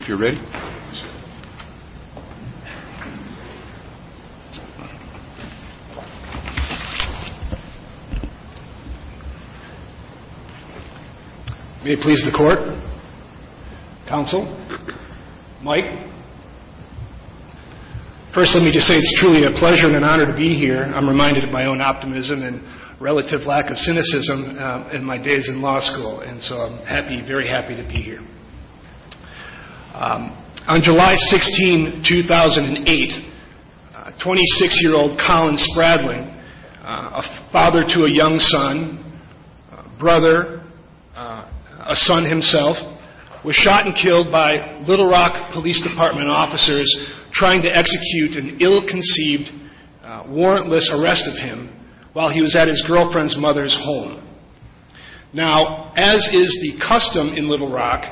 if you're ready. May it please the court, counsel, Mike. First let me just say it's truly a pleasure and an honor to be here. I'm reminded of my own optimism and relative lack of cynicism in my days in law school and so I'm happy, very happy to be here. On July 16, 2008, 26-year-old Colin Spradling, a father to a young son, brother, a son himself, was shot and killed by Little Rock Police Department officers trying to execute an ill-conceived warrantless arrest of him while he was at his girlfriend's mother's home. Now, as is the custom in Little Rock,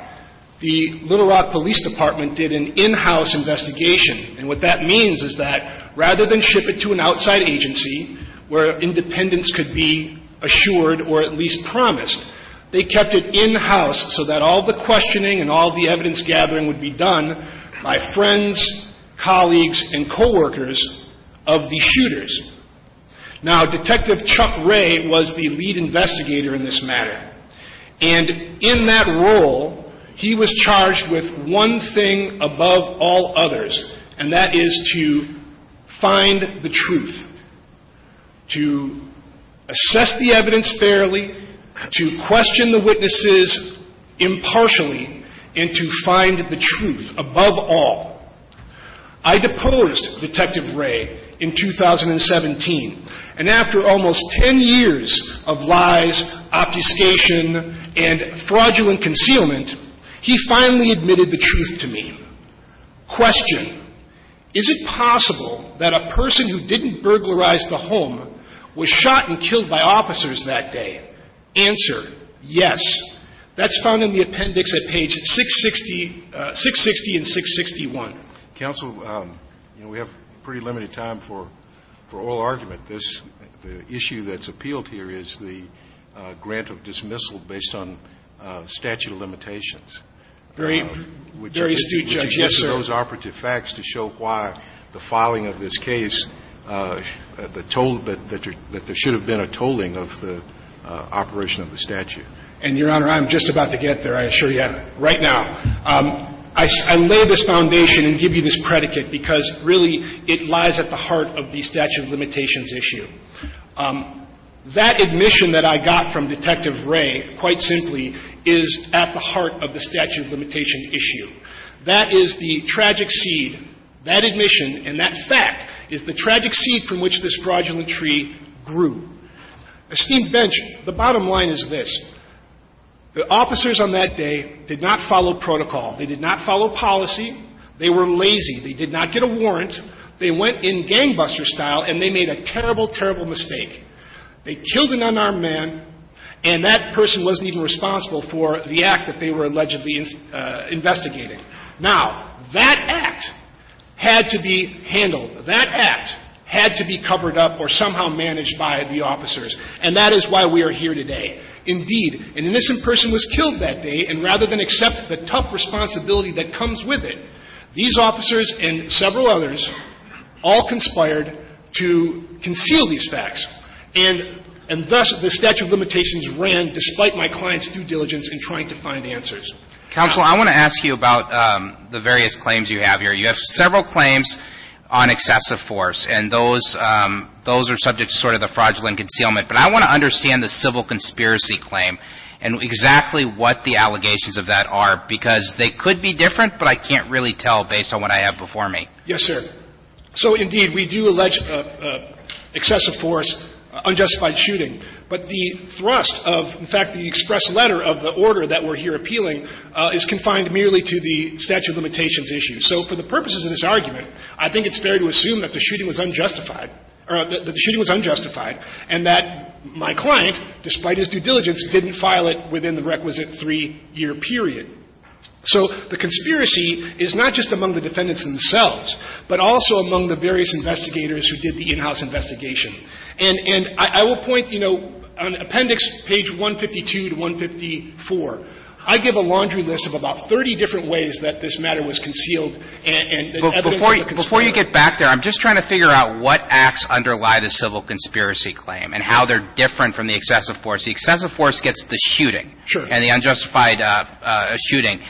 the Little Rock Police Department did an in-house investigation and what that means is that rather than ship it to an outside agency where independence could be assured or at least promised, they kept it in-house so that all the questioning and all the evidence gathering would be done by friends, colleagues, and coworkers of the shooters. Now, Detective Chuck Ray was the lead investigator in this matter and in that role he was charged with one thing above all others and that is to find the truth, to assess the evidence fairly, to question the witnesses impartially, and to find the truth above all. I deposed Detective Ray in 2017 and after almost 10 years of lies, obfuscation, and fraudulent concealment, he finally admitted the truth to me. He was charged with one thing above all others and that is to find the truth, to question the witnesses impartially, and to question the witnesses impartially, and to find the truth above all others. Question, is it possible that a person who didn't burglarize the home was shot and killed by officers that day? Answer, yes. That's found in the appendix at page 660, 660 and 661. Counsel, you know, we have pretty limited time for oral argument. This issue that's appealed here is the grant of dismissal based on statute of limitations. Very astute, Judge. Yes, sir. I think it's important to show those operative facts to show why the filing of this case, the toll that there should have been a tolling of the operation of the statute. And, Your Honor, I'm just about to get there, I assure you, right now. I lay this foundation and give you this predicate because really it lies at the heart of the statute of limitations issue. That admission that I got from Detective Ray, quite simply, is at the heart of the statute of limitations issue. That is the tragic seed, that admission and that fact is the tragic seed from which this fraudulent tree grew. Esteemed bench, the bottom line is this. The officers on that day did not follow protocol. They did not follow policy. They were lazy. They did not get a warrant. They went in gangbuster style and they made a terrible, terrible mistake. They killed an unarmed man and that person wasn't even responsible for the act that they were allegedly investigating. Now, that act had to be handled. That act had to be covered up or somehow managed by the officers. And that is why we are here today. Indeed, an innocent person was killed that day, and rather than accept the tough responsibility that comes with it, these officers and several others all conspired to conceal these facts. And thus the statute of limitations ran, despite my client's due diligence in trying to find answers. Counsel, I want to ask you about the various claims you have here. You have several claims on excessive force, and those are subject to sort of the fraudulent concealment. But I want to understand the civil conspiracy claim and exactly what the allegations of that are, because they could be different, but I can't really tell based on what I have before me. Yes, sir. So, indeed, we do allege excessive force, unjustified shooting. But the thrust of, in fact, the express letter of the order that we're here appealing is confined merely to the statute of limitations issue. So for the purposes of this argument, I think it's fair to assume that the shooting was unjustified, or that the shooting was unjustified, and that my client, despite his due diligence, didn't file it within the requisite three-year period. So the conspiracy is not just among the defendants themselves, but also among the various investigators who did the in-house investigation. And I will point, you know, on appendix page 152 to 154, I give a laundry list of about 30 different ways that this matter was concealed and that's evidence of the conspiracy. Before you get back there, I'm just trying to figure out what acts underlie the civil conspiracy claim and how they're different from the excessive force. The excessive force gets the shooting. Sure. And the unjustified shooting.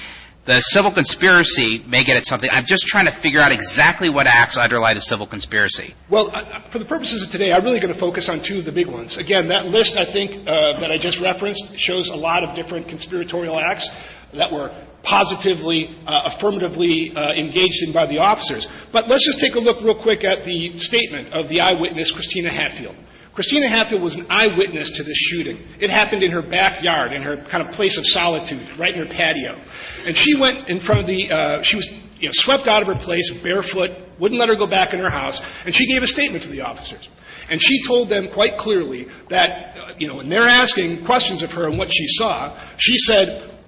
The civil conspiracy may get at something. I'm just trying to figure out exactly what acts underlie the civil conspiracy. Well, for the purposes of today, I'm really going to focus on two of the big ones. Again, that list I think that I just referenced shows a lot of different conspiratorial acts that were positively, affirmatively engaged in by the officers. But let's just take a look real quick at the statement of the eyewitness, Christina Hatfield. Christina Hatfield was an eyewitness to the shooting. It happened in her backyard, in her kind of place of solitude, right near the patio. And she went in front of the – she was, you know, swept out of her place barefoot, wouldn't let her go back in her house, and she gave a statement to the officers. And she told them quite clearly that, you know, when they're asking questions of her and what she saw, she said –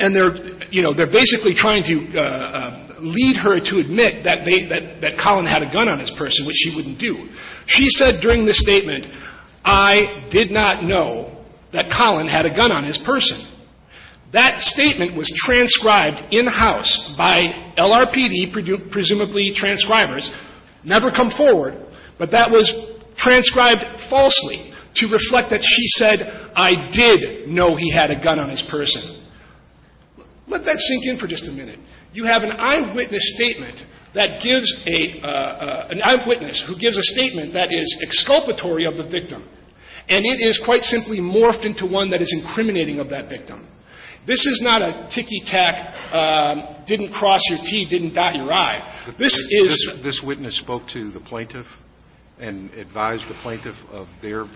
and they're, you know, they're basically trying to lead her to admit that they – that Colin had a gun on his person, which she wouldn't do. She said during the statement, I did not know that Colin had a gun on his person. That statement was transcribed in-house by LRPD, presumably transcribers, never come forward, but that was transcribed falsely to reflect that she said, I did know he had a gun on his person. Let that sink in for just a minute. You have an eyewitness statement that gives a – an eyewitness who gives a statement that is exculpatory of the victim, and it is quite simply morphed into one that is discriminating of that victim. This is not a ticky-tack, didn't cross your T, didn't dot your I. This is – This witness spoke to the plaintiff and advised the plaintiff of their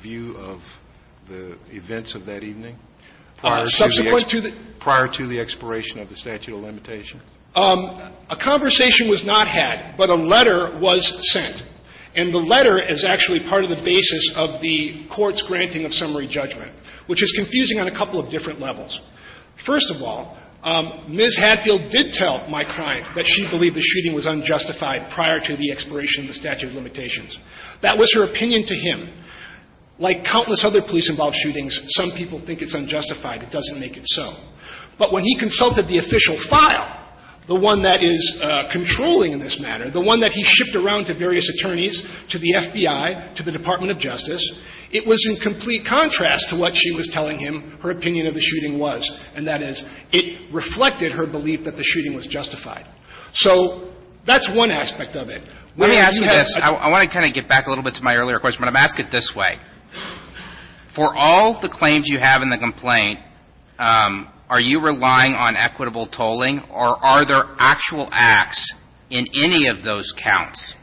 view of the events of that evening prior to the expiration of the statute of limitations? A conversation was not had, but a letter was sent. And the letter is actually part of the basis of the court's granting of summary judgment, which is confusing on a couple of different levels. First of all, Ms. Hadfield did tell my client that she believed the shooting was unjustified prior to the expiration of the statute of limitations. That was her opinion to him. Like countless other police-involved shootings, some people think it's unjustified. It doesn't make it so. But when he consulted the official file, the one that is controlling in this matter, the one that he shipped around to various attorneys, to the FBI, to the Department of Justice, it was in complete contrast to what she was telling him her opinion of the shooting was, and that is it reflected her belief that the shooting was justified. So that's one aspect of it. Let me ask you this. I want to kind of get back a little bit to my earlier question, but I'm going to ask it this way. For all the claims you have in the complaint, are you relying on equitable tolling, or are there actual acts in any of those counts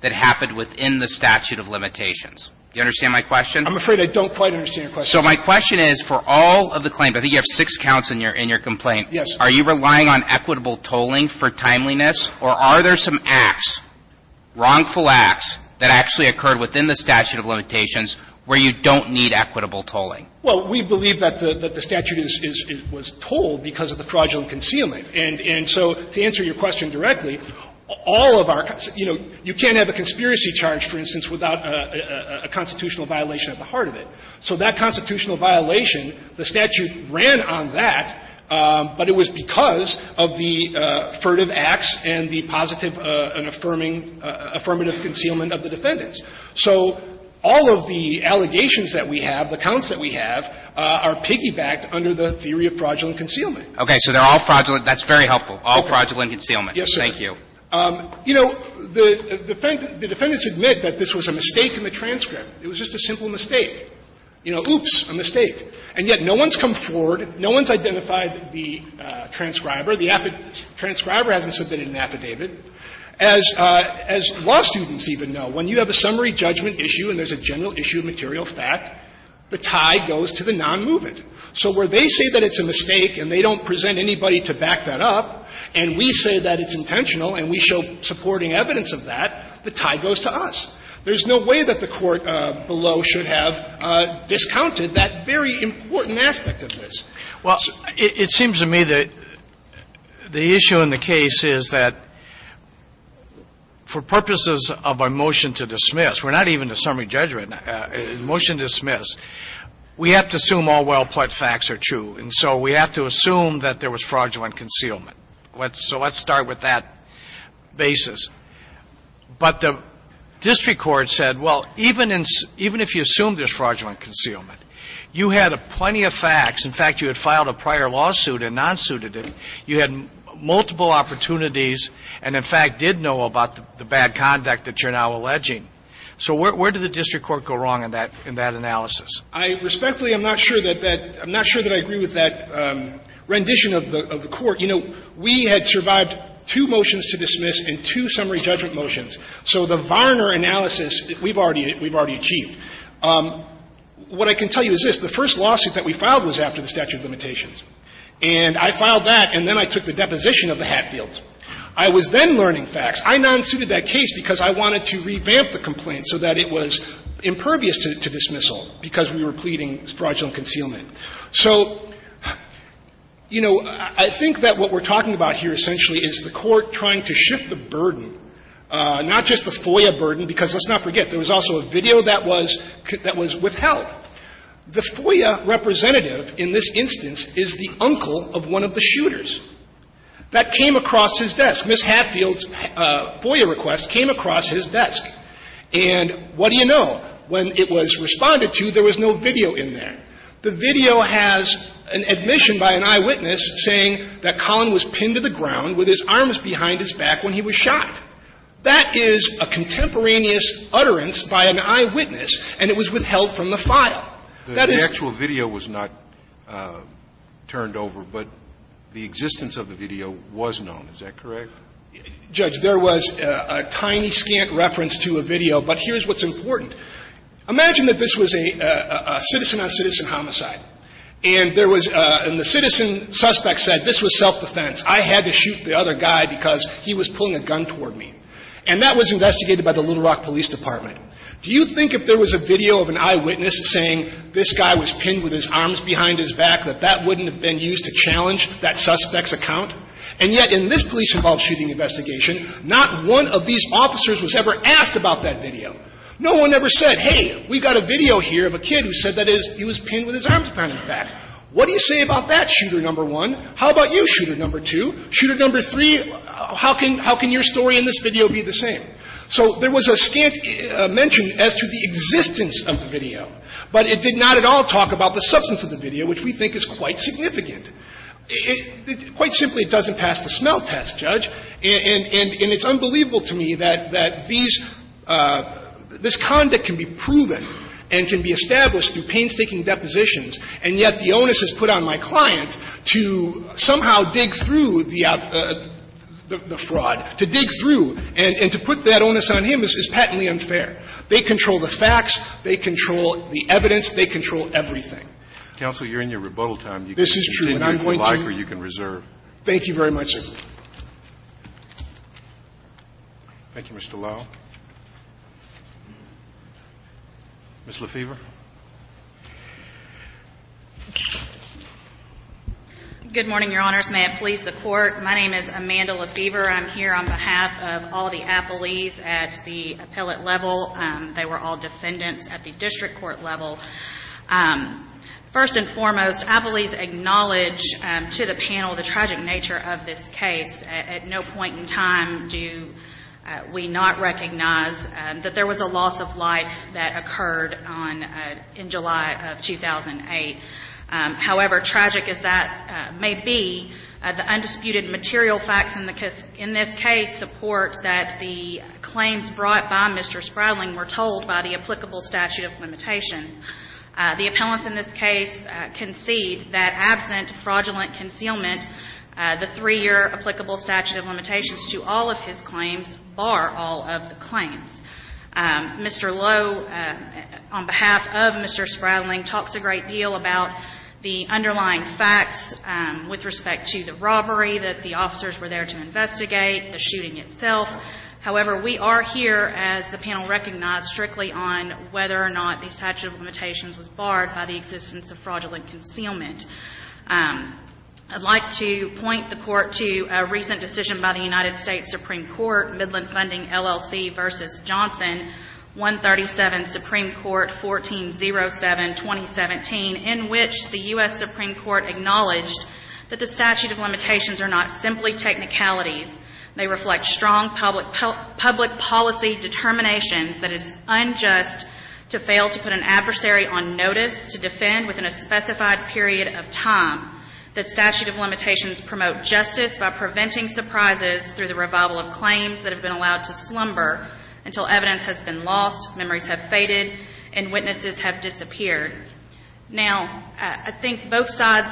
that happened within the statute of limitations? Do you understand my question? I'm afraid I don't quite understand your question. So my question is, for all of the claims, I think you have six counts in your complaint. Yes. Are you relying on equitable tolling for timeliness, or are there some acts, wrongful acts, that actually occurred within the statute of limitations where you don't need equitable tolling? Well, we believe that the statute was told because of the fraudulent concealment. And so to answer your question directly, all of our, you know, you can't have a conspiracy charge, for instance, without a constitutional violation at the heart of it. So that constitutional violation, the statute ran on that, but it was because of the furtive acts and the positive and affirming, affirmative concealment of the defendants. So all of the allegations that we have, the counts that we have, are piggybacked under the theory of fraudulent concealment. Okay. So they're all fraudulent. That's very helpful. All fraudulent concealment. Yes, sir. Thank you. You know, the defendants admit that this was a mistake in the transcript. It was just a simple mistake. You know, oops, a mistake. And yet no one's come forward, no one's identified the transcriber. The transcriber hasn't submitted an affidavit. As law students even know, when you have a summary judgment issue and there's a general issue of material fact, the tie goes to the nonmovement. So where they say that it's a mistake and they don't present anybody to back that up, and we say that it's intentional and we show supporting evidence of that, the tie goes to us. There's no way that the Court below should have discounted that very important aspect of this. Well, it seems to me that the issue in the case is that for purposes of a motion to dismiss, we're not even a summary judgment. A motion to dismiss, we have to assume all well-put facts are true. And so we have to assume that there was fraudulent concealment. So let's start with that basis. But the district court said, well, even if you assume there's fraudulent concealment, you had plenty of facts. In fact, you had filed a prior lawsuit and non-suited it. You had multiple opportunities and, in fact, did know about the bad conduct that you're now alleging. So where did the district court go wrong in that analysis? Respectfully, I'm not sure that I agree with that rendition of the Court. You know, we had survived two motions to dismiss and two summary judgment motions. So the Varner analysis, we've already achieved. What I can tell you is this. The first lawsuit that we filed was after the statute of limitations. And I filed that, and then I took the deposition of the Hatfields. I was then learning facts. I non-suited that case because I wanted to revamp the complaint so that it was impervious to dismissal because we were pleading fraudulent concealment. So, you know, I think that what we're talking about here essentially is the Court trying to shift the burden, not just the FOIA burden, because let's not forget, there was also a video that was withheld. The FOIA representative in this instance is the uncle of one of the shooters that came across his desk. Ms. Hatfield's FOIA request came across his desk. And what do you know? When it was responded to, there was no video in there. The video has an admission by an eyewitness saying that Collin was pinned to the ground with his arms behind his back when he was shot. That is a contemporaneous utterance by an eyewitness, and it was withheld from the file. That is the case. Scalia. The actual video was not turned over, but the existence of the video was known. Is that correct? Carvin. Judge, there was a tiny, scant reference to a video, but here's what's important. Imagine that this was a citizen-on-citizen homicide, and there was and the citizen suspect said this was self-defense. I had to shoot the other guy because he was pulling a gun toward me. And that was investigated by the Little Rock Police Department. Do you think if there was a video of an eyewitness saying this guy was pinned with his arms behind his back that that wouldn't have been used to challenge that suspect's account? And yet in this police-involved shooting investigation, not one of these officers was ever asked about that video. No one ever said, hey, we've got a video here of a kid who said that he was pinned with his arms behind his back. What do you say about that, shooter number one? How about you, shooter number two? Shooter number three, how can your story in this video be the same? So there was a scant mention as to the existence of the video, but it did not at all talk about the substance of the video, which we think is quite significant. Quite simply, it doesn't pass the smell test, Judge. And it's unbelievable to me that these – this conduct can be proven and can be established through painstaking depositions, and yet the onus is put on my client to somehow dig through the fraud, to dig through, and to put that onus on him is patently unfair. They control the facts, they control the evidence, they control everything. Counsel, you're in your rebuttal time. This is true, and I'm pointing to you. You can continue if you like or you can reserve. Thank you very much, sir. Thank you, Mr. Lowe. Ms. LaFever. Good morning, Your Honors. May it please the Court. My name is Amanda LaFever. I'm here on behalf of all the appellees at the appellate level. They were all defendants at the district court level. First and foremost, appellees acknowledge to the panel the tragic nature of this case. At no point in time do we not recognize that there was a loss of life that occurred on – in July of 2008. However tragic as that may be, the undisputed material facts in the – in this case support that the claims brought by Mr. Spradling were told by the applicable statute of limitations. The appellants in this case concede that absent fraudulent concealment, the three-year applicable statute of limitations to all of his claims bar all of the claims. Mr. Lowe, on behalf of Mr. Spradling, talks a great deal about the underlying facts with respect to the robbery that the officers were there to investigate, the shooting itself. However, we are here, as the panel recognized, strictly on whether or not the statute of limitations was barred by the existence of fraudulent concealment. I'd like to point the Court to a recent decision by the United States Supreme Court, Midland Funding, LLC v. Johnson, 137, Supreme Court, 1407, 2017, in which the U.S. Supreme Court acknowledged that the statute of limitations are not simply technicalities. They reflect strong public policy determinations that it's unjust to fail to put an Now, I think both sides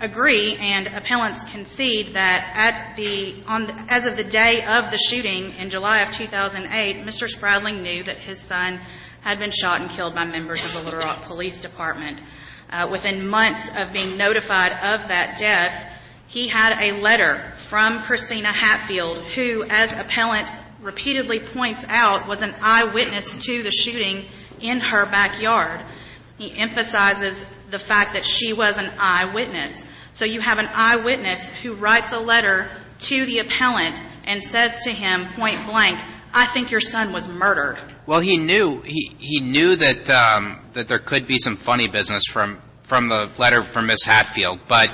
agree and appellants concede that at the — as of the day of the shooting in July of 2008, Mr. Spradling knew that his son had been shot and killed by members of the Little Rock Police Department. notified of that death, he had a letter from Christina Hatfield, who, as appellant repeatedly points out, was an eyewitness to the shooting in her backyard. He emphasizes the fact that she was an eyewitness. So you have an eyewitness who writes a letter to the appellant and says to him, point blank, I think your son was murdered. Well, he knew. He knew that there could be some funny business from the letter from Ms. Hatfield, but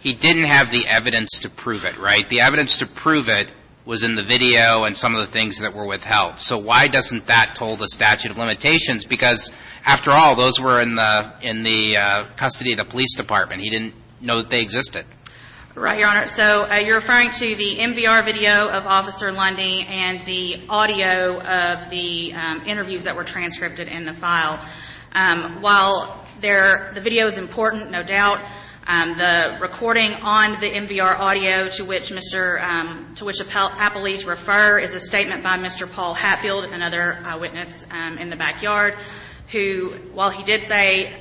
he didn't have the evidence to prove it, right? The evidence to prove it was in the video and some of the things that were withheld. So why doesn't that toll the statute of limitations? Because, after all, those were in the custody of the police department. He didn't know that they existed. Right, Your Honor. So you're referring to the MVR video of Officer Lundy and the audio of the interviews that were transcripted in the file. While the video is important, no doubt, the recording on the MVR audio to which appellees refer is a statement by Mr. Paul Hatfield, another eyewitness in the backyard, who, while he did say,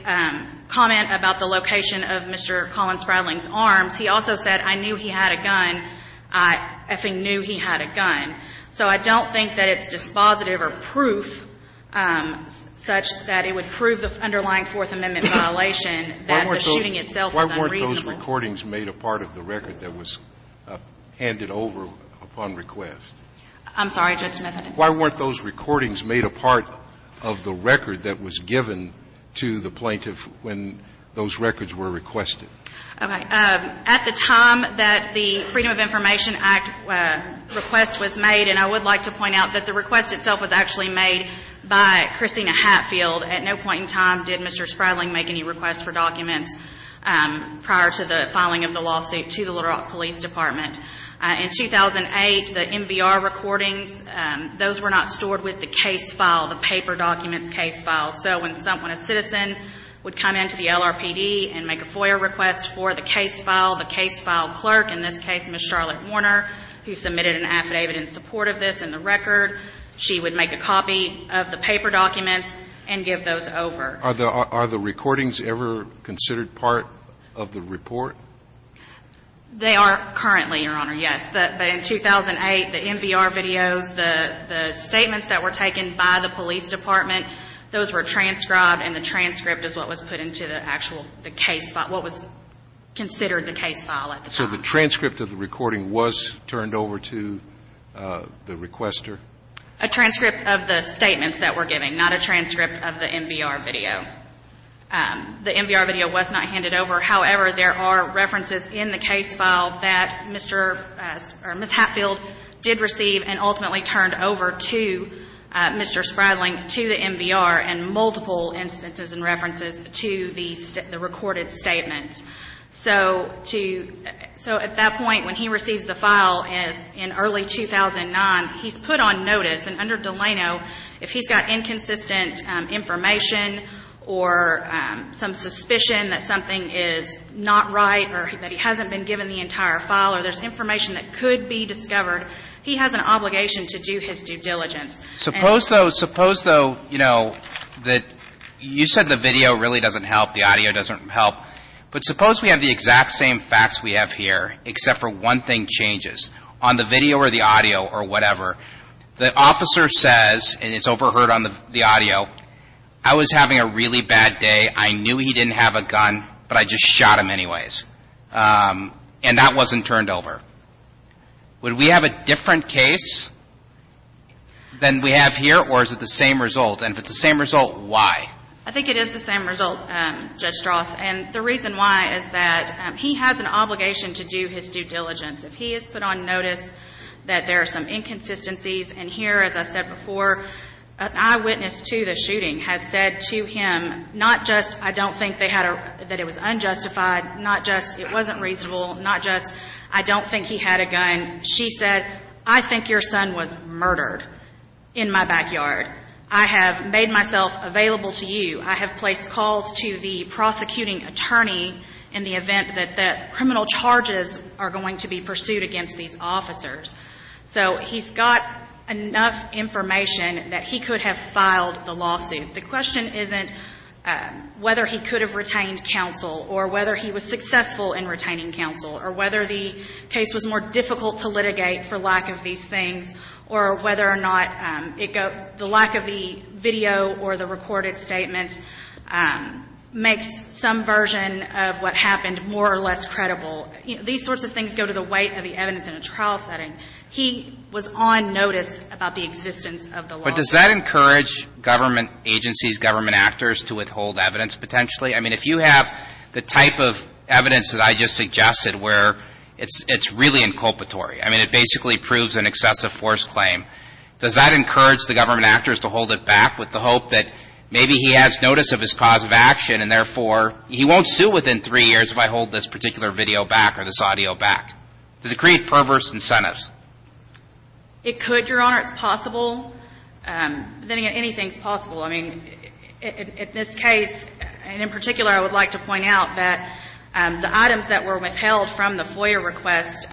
comment about the location of Mr. Collins Spradling's arms, he also said, I knew he had a gun. I effing knew he had a gun. So I don't think that it's dispositive or proof such that it would prove the underlying Fourth Amendment violation, that the shooting itself is unreasonable. Why weren't those recordings made a part of the record that was handed over upon request? I'm sorry, Judge Smith. Why weren't those recordings made a part of the record that was given to the plaintiff when those records were requested? Okay. At the time that the Freedom of Information Act request was made, and I would like to point out that the request itself was actually made by Christina Hatfield. At no point in time did Mr. Spradling make any requests for documents prior to the filing of the lawsuit to the Little Rock Police Department. In 2008, the MVR recordings, those were not stored with the case file, the paper documents case file. So when someone, a citizen, would come into the LRPD and make a FOIA request for the case file, the case file clerk, in this case, Ms. Charlotte Warner, who submitted an affidavit in support of this in the record, she would make a copy of the paper documents and give those over. Are the recordings ever considered part of the report? They are currently, Your Honor, yes. But in 2008, the MVR videos, the statements that were taken by the police department, those were transcribed and the transcript is what was put into the actual case file, what was considered the case file at the time. So the transcript of the recording was turned over to the requester? A transcript of the statements that we're giving, not a transcript of the MVR video. The MVR video was not handed over. However, there are references in the case file that Mr. or Ms. Hatfield did receive and ultimately turned over to Mr. Spradling, to the MVR, and multiple instances and references to the recorded statements. So at that point, when he receives the file in early 2009, he's put on notice. And under Delano, if he's got inconsistent information or some suspicion that something is not right or that he hasn't been given the entire file or there's information that could be discovered, he has an obligation to do his due diligence. Suppose, though, suppose, though, you know, that you said the video really doesn't help, the audio doesn't help. But suppose we have the exact same facts we have here, except for one thing changes. On the video or the audio or whatever, the officer says, and it's overheard on the audio, I was having a really bad day. I knew he didn't have a gun, but I just shot him anyways. And that wasn't turned over. Would we have a different case than we have here, or is it the same result? And if it's the same result, why? I think it is the same result, Judge Stroth. And the reason why is that he has an obligation to do his due diligence. If he has put on notice that there are some inconsistencies, and here, as I said before, an eyewitness to the shooting has said to him, not just I don't think they had a, that it was unjustified, not just it wasn't reasonable, not just I don't think he had a gun. She said, I think your son was murdered in my backyard. I have made myself available to you. I have placed calls to the prosecuting attorney in the event that the criminal charges are going to be pursued against these officers. So he's got enough information that he could have filed the lawsuit. The question isn't whether he could have retained counsel or whether he was successful in retaining counsel or whether the case was more difficult to litigate for lack of these things or whether or not the lack of the video or the recorded statements makes some version of what happened more or less credible. These sorts of things go to the weight of the evidence in a trial setting. He was on notice about the existence of the lawsuit. But does that encourage government agencies, government actors to withhold evidence potentially? I mean, if you have the type of evidence that I just suggested where it's really inculpatory, I mean, it basically proves an excessive force claim, does that encourage the government actors to hold it back with the hope that maybe he has notice of his cause of action and therefore he won't sue within three years if I hold this particular video back or this audio back? Does it create perverse incentives? It could, Your Honor. It's possible. Anything is possible. I mean, in this case, and in particular, I would like to point out that the items that were withheld from the FOIA request,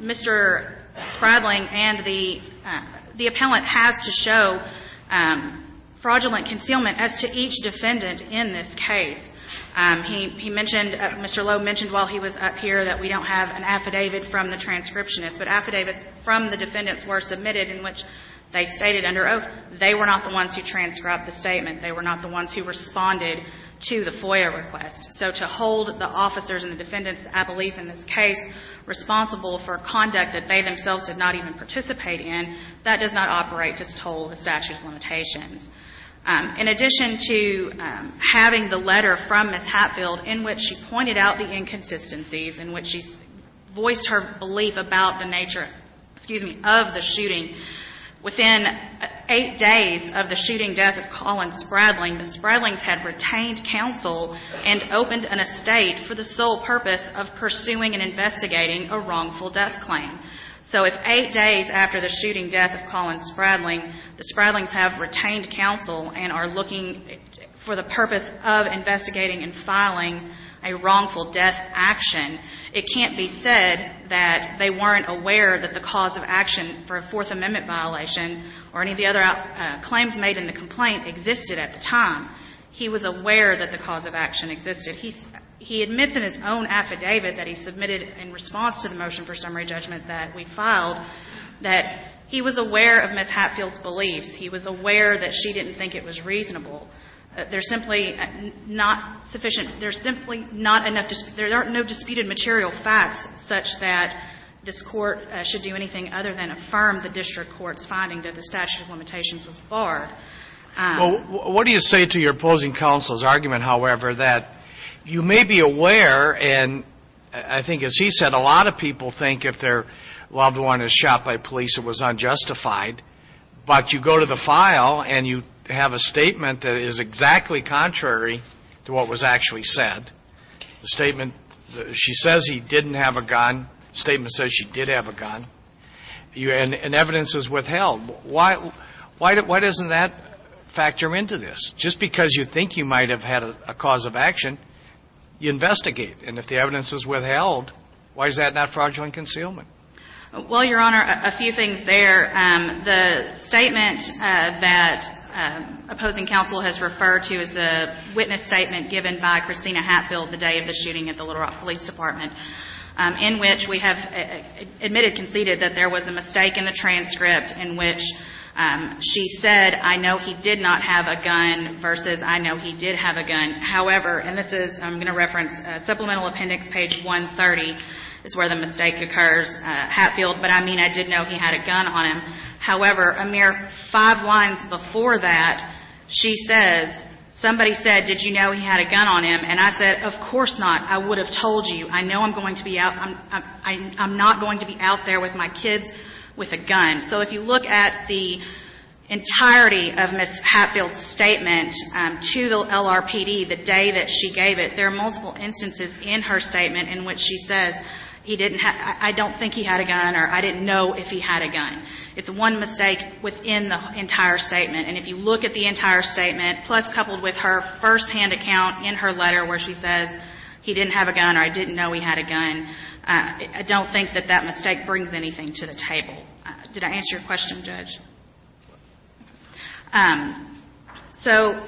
Mr. Spradling and the appellant has to show fraudulent concealment as to each defendant in this case. He mentioned, Mr. Lowe mentioned while he was up here that we don't have an affidavit from the transcriptionist, but affidavits from the defendants were submitted in which they stated under oath they were not the ones who transcribed the statement, they were not the ones who responded to the FOIA request. So to hold the officers and the defendants, the appellees in this case, responsible for conduct that they themselves did not even participate in, that does not operate to the toll of the statute of limitations. In addition to having the letter from Ms. Hatfield in which she pointed out the inconsistencies in which she voiced her belief about the nature, excuse me, of the shooting, within eight days of the shooting death of Colin Spradling, the Spradlings had retained counsel and opened an estate for the sole purpose of pursuing and investigating a wrongful death claim. So if eight days after the shooting death of Colin Spradling, the Spradlings have retained counsel and are looking for the purpose of investigating and filing a wrongful death action, it can't be said that they weren't aware that the cause of action for a Fourth Amendment violation or any of the other claims made in the complaint existed at the time. He was aware that the cause of action existed. He admits in his own affidavit that he submitted in response to the motion for summary judgment that we filed that he was aware of Ms. Hatfield's beliefs. He was aware that she didn't think it was reasonable. There's simply not sufficient – there's simply not enough – there are no disputed material facts such that this Court should do anything other than affirm the district court's finding that the statute of limitations was barred. Well, what do you say to your opposing counsel's argument, however, that you may be aware and I think, as he said, a lot of people think if their loved one is shot by police, it was unjustified. But you go to the file and you have a statement that is exactly contrary to what was actually said. The statement – she says he didn't have a gun. The statement says she did have a gun. And evidence is withheld. Why doesn't that factor into this? Just because you think you might have had a cause of action, you investigate. And if the evidence is withheld, why is that not fraudulent concealment? Well, Your Honor, a few things there. The statement that opposing counsel has referred to is the witness statement given by Christina Hatfield the day of the shooting at the Little Rock Police Department, in which we have admitted, conceded, that there was a mistake in the transcript in which she said, I know he did not have a gun, versus I know he did have a gun. However – and this is – I'm going to reference supplemental appendix page 130 is where the mistake occurs – Hatfield, but I mean, I did know he had a gun on him. However, a mere five lines before that, she says, somebody said, did you know he had a gun on him? And I said, of course not. I would have told you. I know I'm going to be out – I'm not going to be out there with my kids with a gun. So if you look at the entirety of Ms. Hatfield's statement to the LRPD the day that she gave it, there are multiple instances in her statement in which she says, he didn't have – I don't think he had a gun or I didn't know if he had a gun. It's one mistake within the entire statement. And if you look at the entire statement, plus coupled with her firsthand account in her letter where she says, he didn't have a gun or I didn't know he had a gun, I don't think that that mistake brings anything to the table. Did I answer your question, Judge? So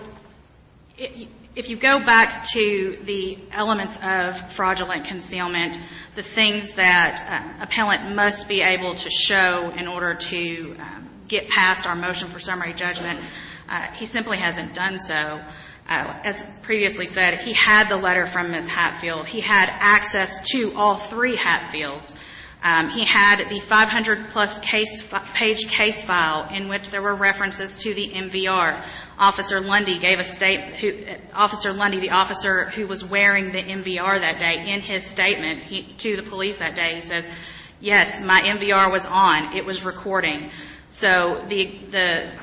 if you go back to the elements of fraudulent concealment, the things that appellant must be able to show in order to get past our motion for summary judgment, he simply hasn't done so. As previously said, he had the letter from Ms. Hatfield. He had access to all three Hatfields. He had the 500-plus page case file in which there were references to the MVR. Officer Lundy gave a – Officer Lundy, the officer who was wearing the MVR that day, in his statement to the police that day, he says, yes, my MVR was on. It was recording. So the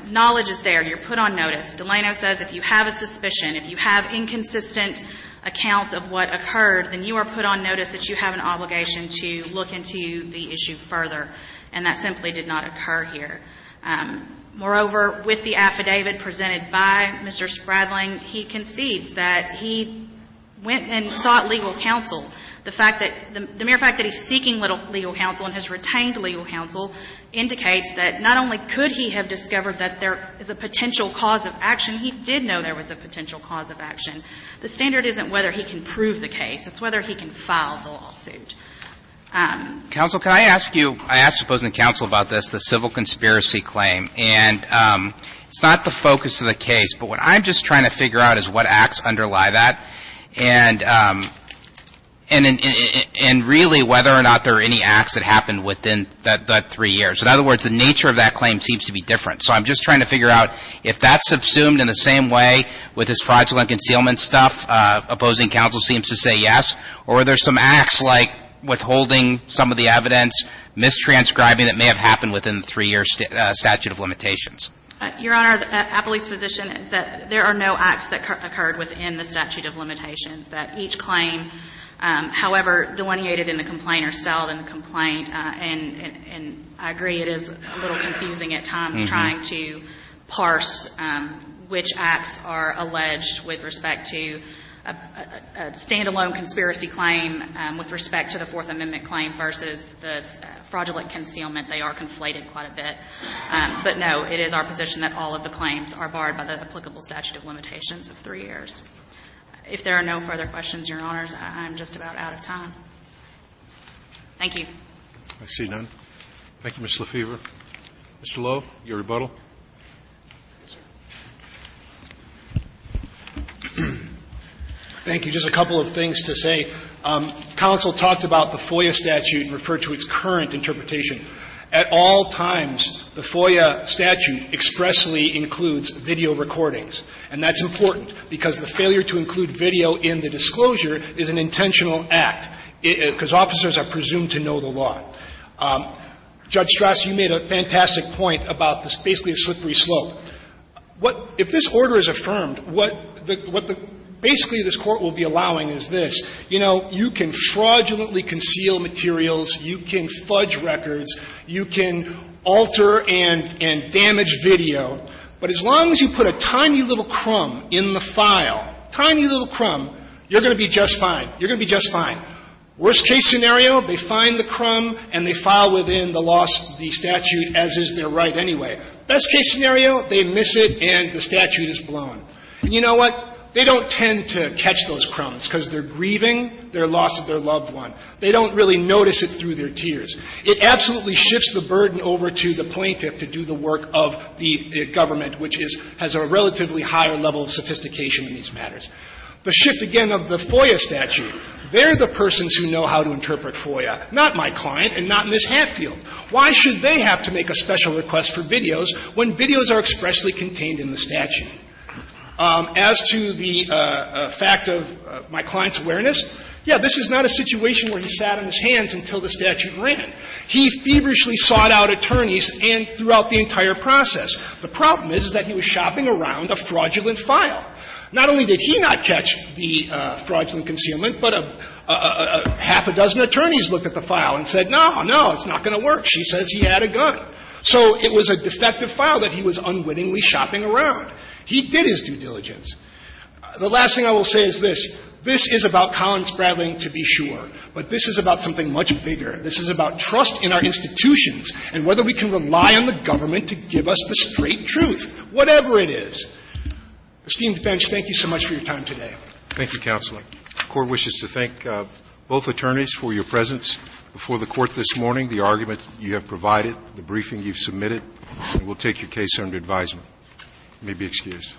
knowledge is there. You're put on notice. Delano says if you have a suspicion, if you have inconsistent accounts of what further, and that simply did not occur here. Moreover, with the affidavit presented by Mr. Spradling, he concedes that he went and sought legal counsel. The fact that – the mere fact that he's seeking legal counsel and has retained legal counsel indicates that not only could he have discovered that there is a potential cause of action, he did know there was a potential cause of action. The standard isn't whether he can prove the case. It's whether he can file the lawsuit. Counsel, can I ask you – I asked opposing counsel about this, the civil conspiracy claim. And it's not the focus of the case, but what I'm just trying to figure out is what acts underlie that and really whether or not there are any acts that happened within that three years. In other words, the nature of that claim seems to be different. So I'm just trying to figure out if that's subsumed in the same way with this fraudulent concealment stuff. Opposing counsel seems to say yes. Or are there some acts like withholding some of the evidence, mistranscribing that may have happened within the three-year statute of limitations? Your Honor, Appley's position is that there are no acts that occurred within the statute of limitations, that each claim, however delineated in the complaint or settled in the complaint. And I agree it is a little confusing at times trying to parse which acts are alleged with respect to a standalone conspiracy claim with respect to the Fourth Amendment claim versus the fraudulent concealment. They are conflated quite a bit. But, no, it is our position that all of the claims are barred by the applicable statute of limitations of three years. If there are no further questions, Your Honors, I'm just about out of time. Thank you. Roberts. I see none. Thank you, Ms. LaFever. Mr. Lowe, your rebuttal. Thank you. Just a couple of things to say. Counsel talked about the FOIA statute and referred to its current interpretation. At all times, the FOIA statute expressly includes video recordings. And that's important, because the failure to include video in the disclosure is an intentional act, because officers are presumed to know the law. Judge Strasse, you made a fantastic point about this basically a slippery slope. If this order is affirmed, what basically this Court will be allowing is this. You know, you can fraudulently conceal materials. You can fudge records. You can alter and damage video. But as long as you put a tiny little crumb in the file, tiny little crumb, you're going to be just fine. You're going to be just fine. Worst-case scenario, they find the crumb and they file within the loss of the statute, as is their right anyway. Best-case scenario, they miss it and the statute is blown. And you know what? They don't tend to catch those crumbs, because they're grieving their loss of their loved one. They don't really notice it through their tears. It absolutely shifts the burden over to the plaintiff to do the work of the government, which has a relatively higher level of sophistication in these matters. The shift, again, of the FOIA statute. They're the persons who know how to interpret FOIA, not my client and not Ms. Hatfield. Why should they have to make a special request for videos when videos are expressly contained in the statute? As to the fact of my client's awareness, yes, this is not a situation where he sat on his hands until the statute ran. He feverishly sought out attorneys and throughout the entire process. The problem is, is that he was shopping around a fraudulent file. Not only did he not catch the fraudulent concealment, but a half a dozen attorneys looked at the file and said, no, no, it's not going to work. She says he had a gun. So it was a defective file that he was unwittingly shopping around. He did his due diligence. The last thing I will say is this. This is about Collins-Bradley to be sure, but this is about something much bigger. This is about trust in our institutions and whether we can rely on the government to give us the straight truth, whatever it is. Esteemed defense, thank you so much for your time today. Roberts. Thank you, Counselor. The Court wishes to thank both attorneys for your presence before the Court this morning, the argument you have provided, the briefing you've submitted. We'll take your case under advisement. You may be excused.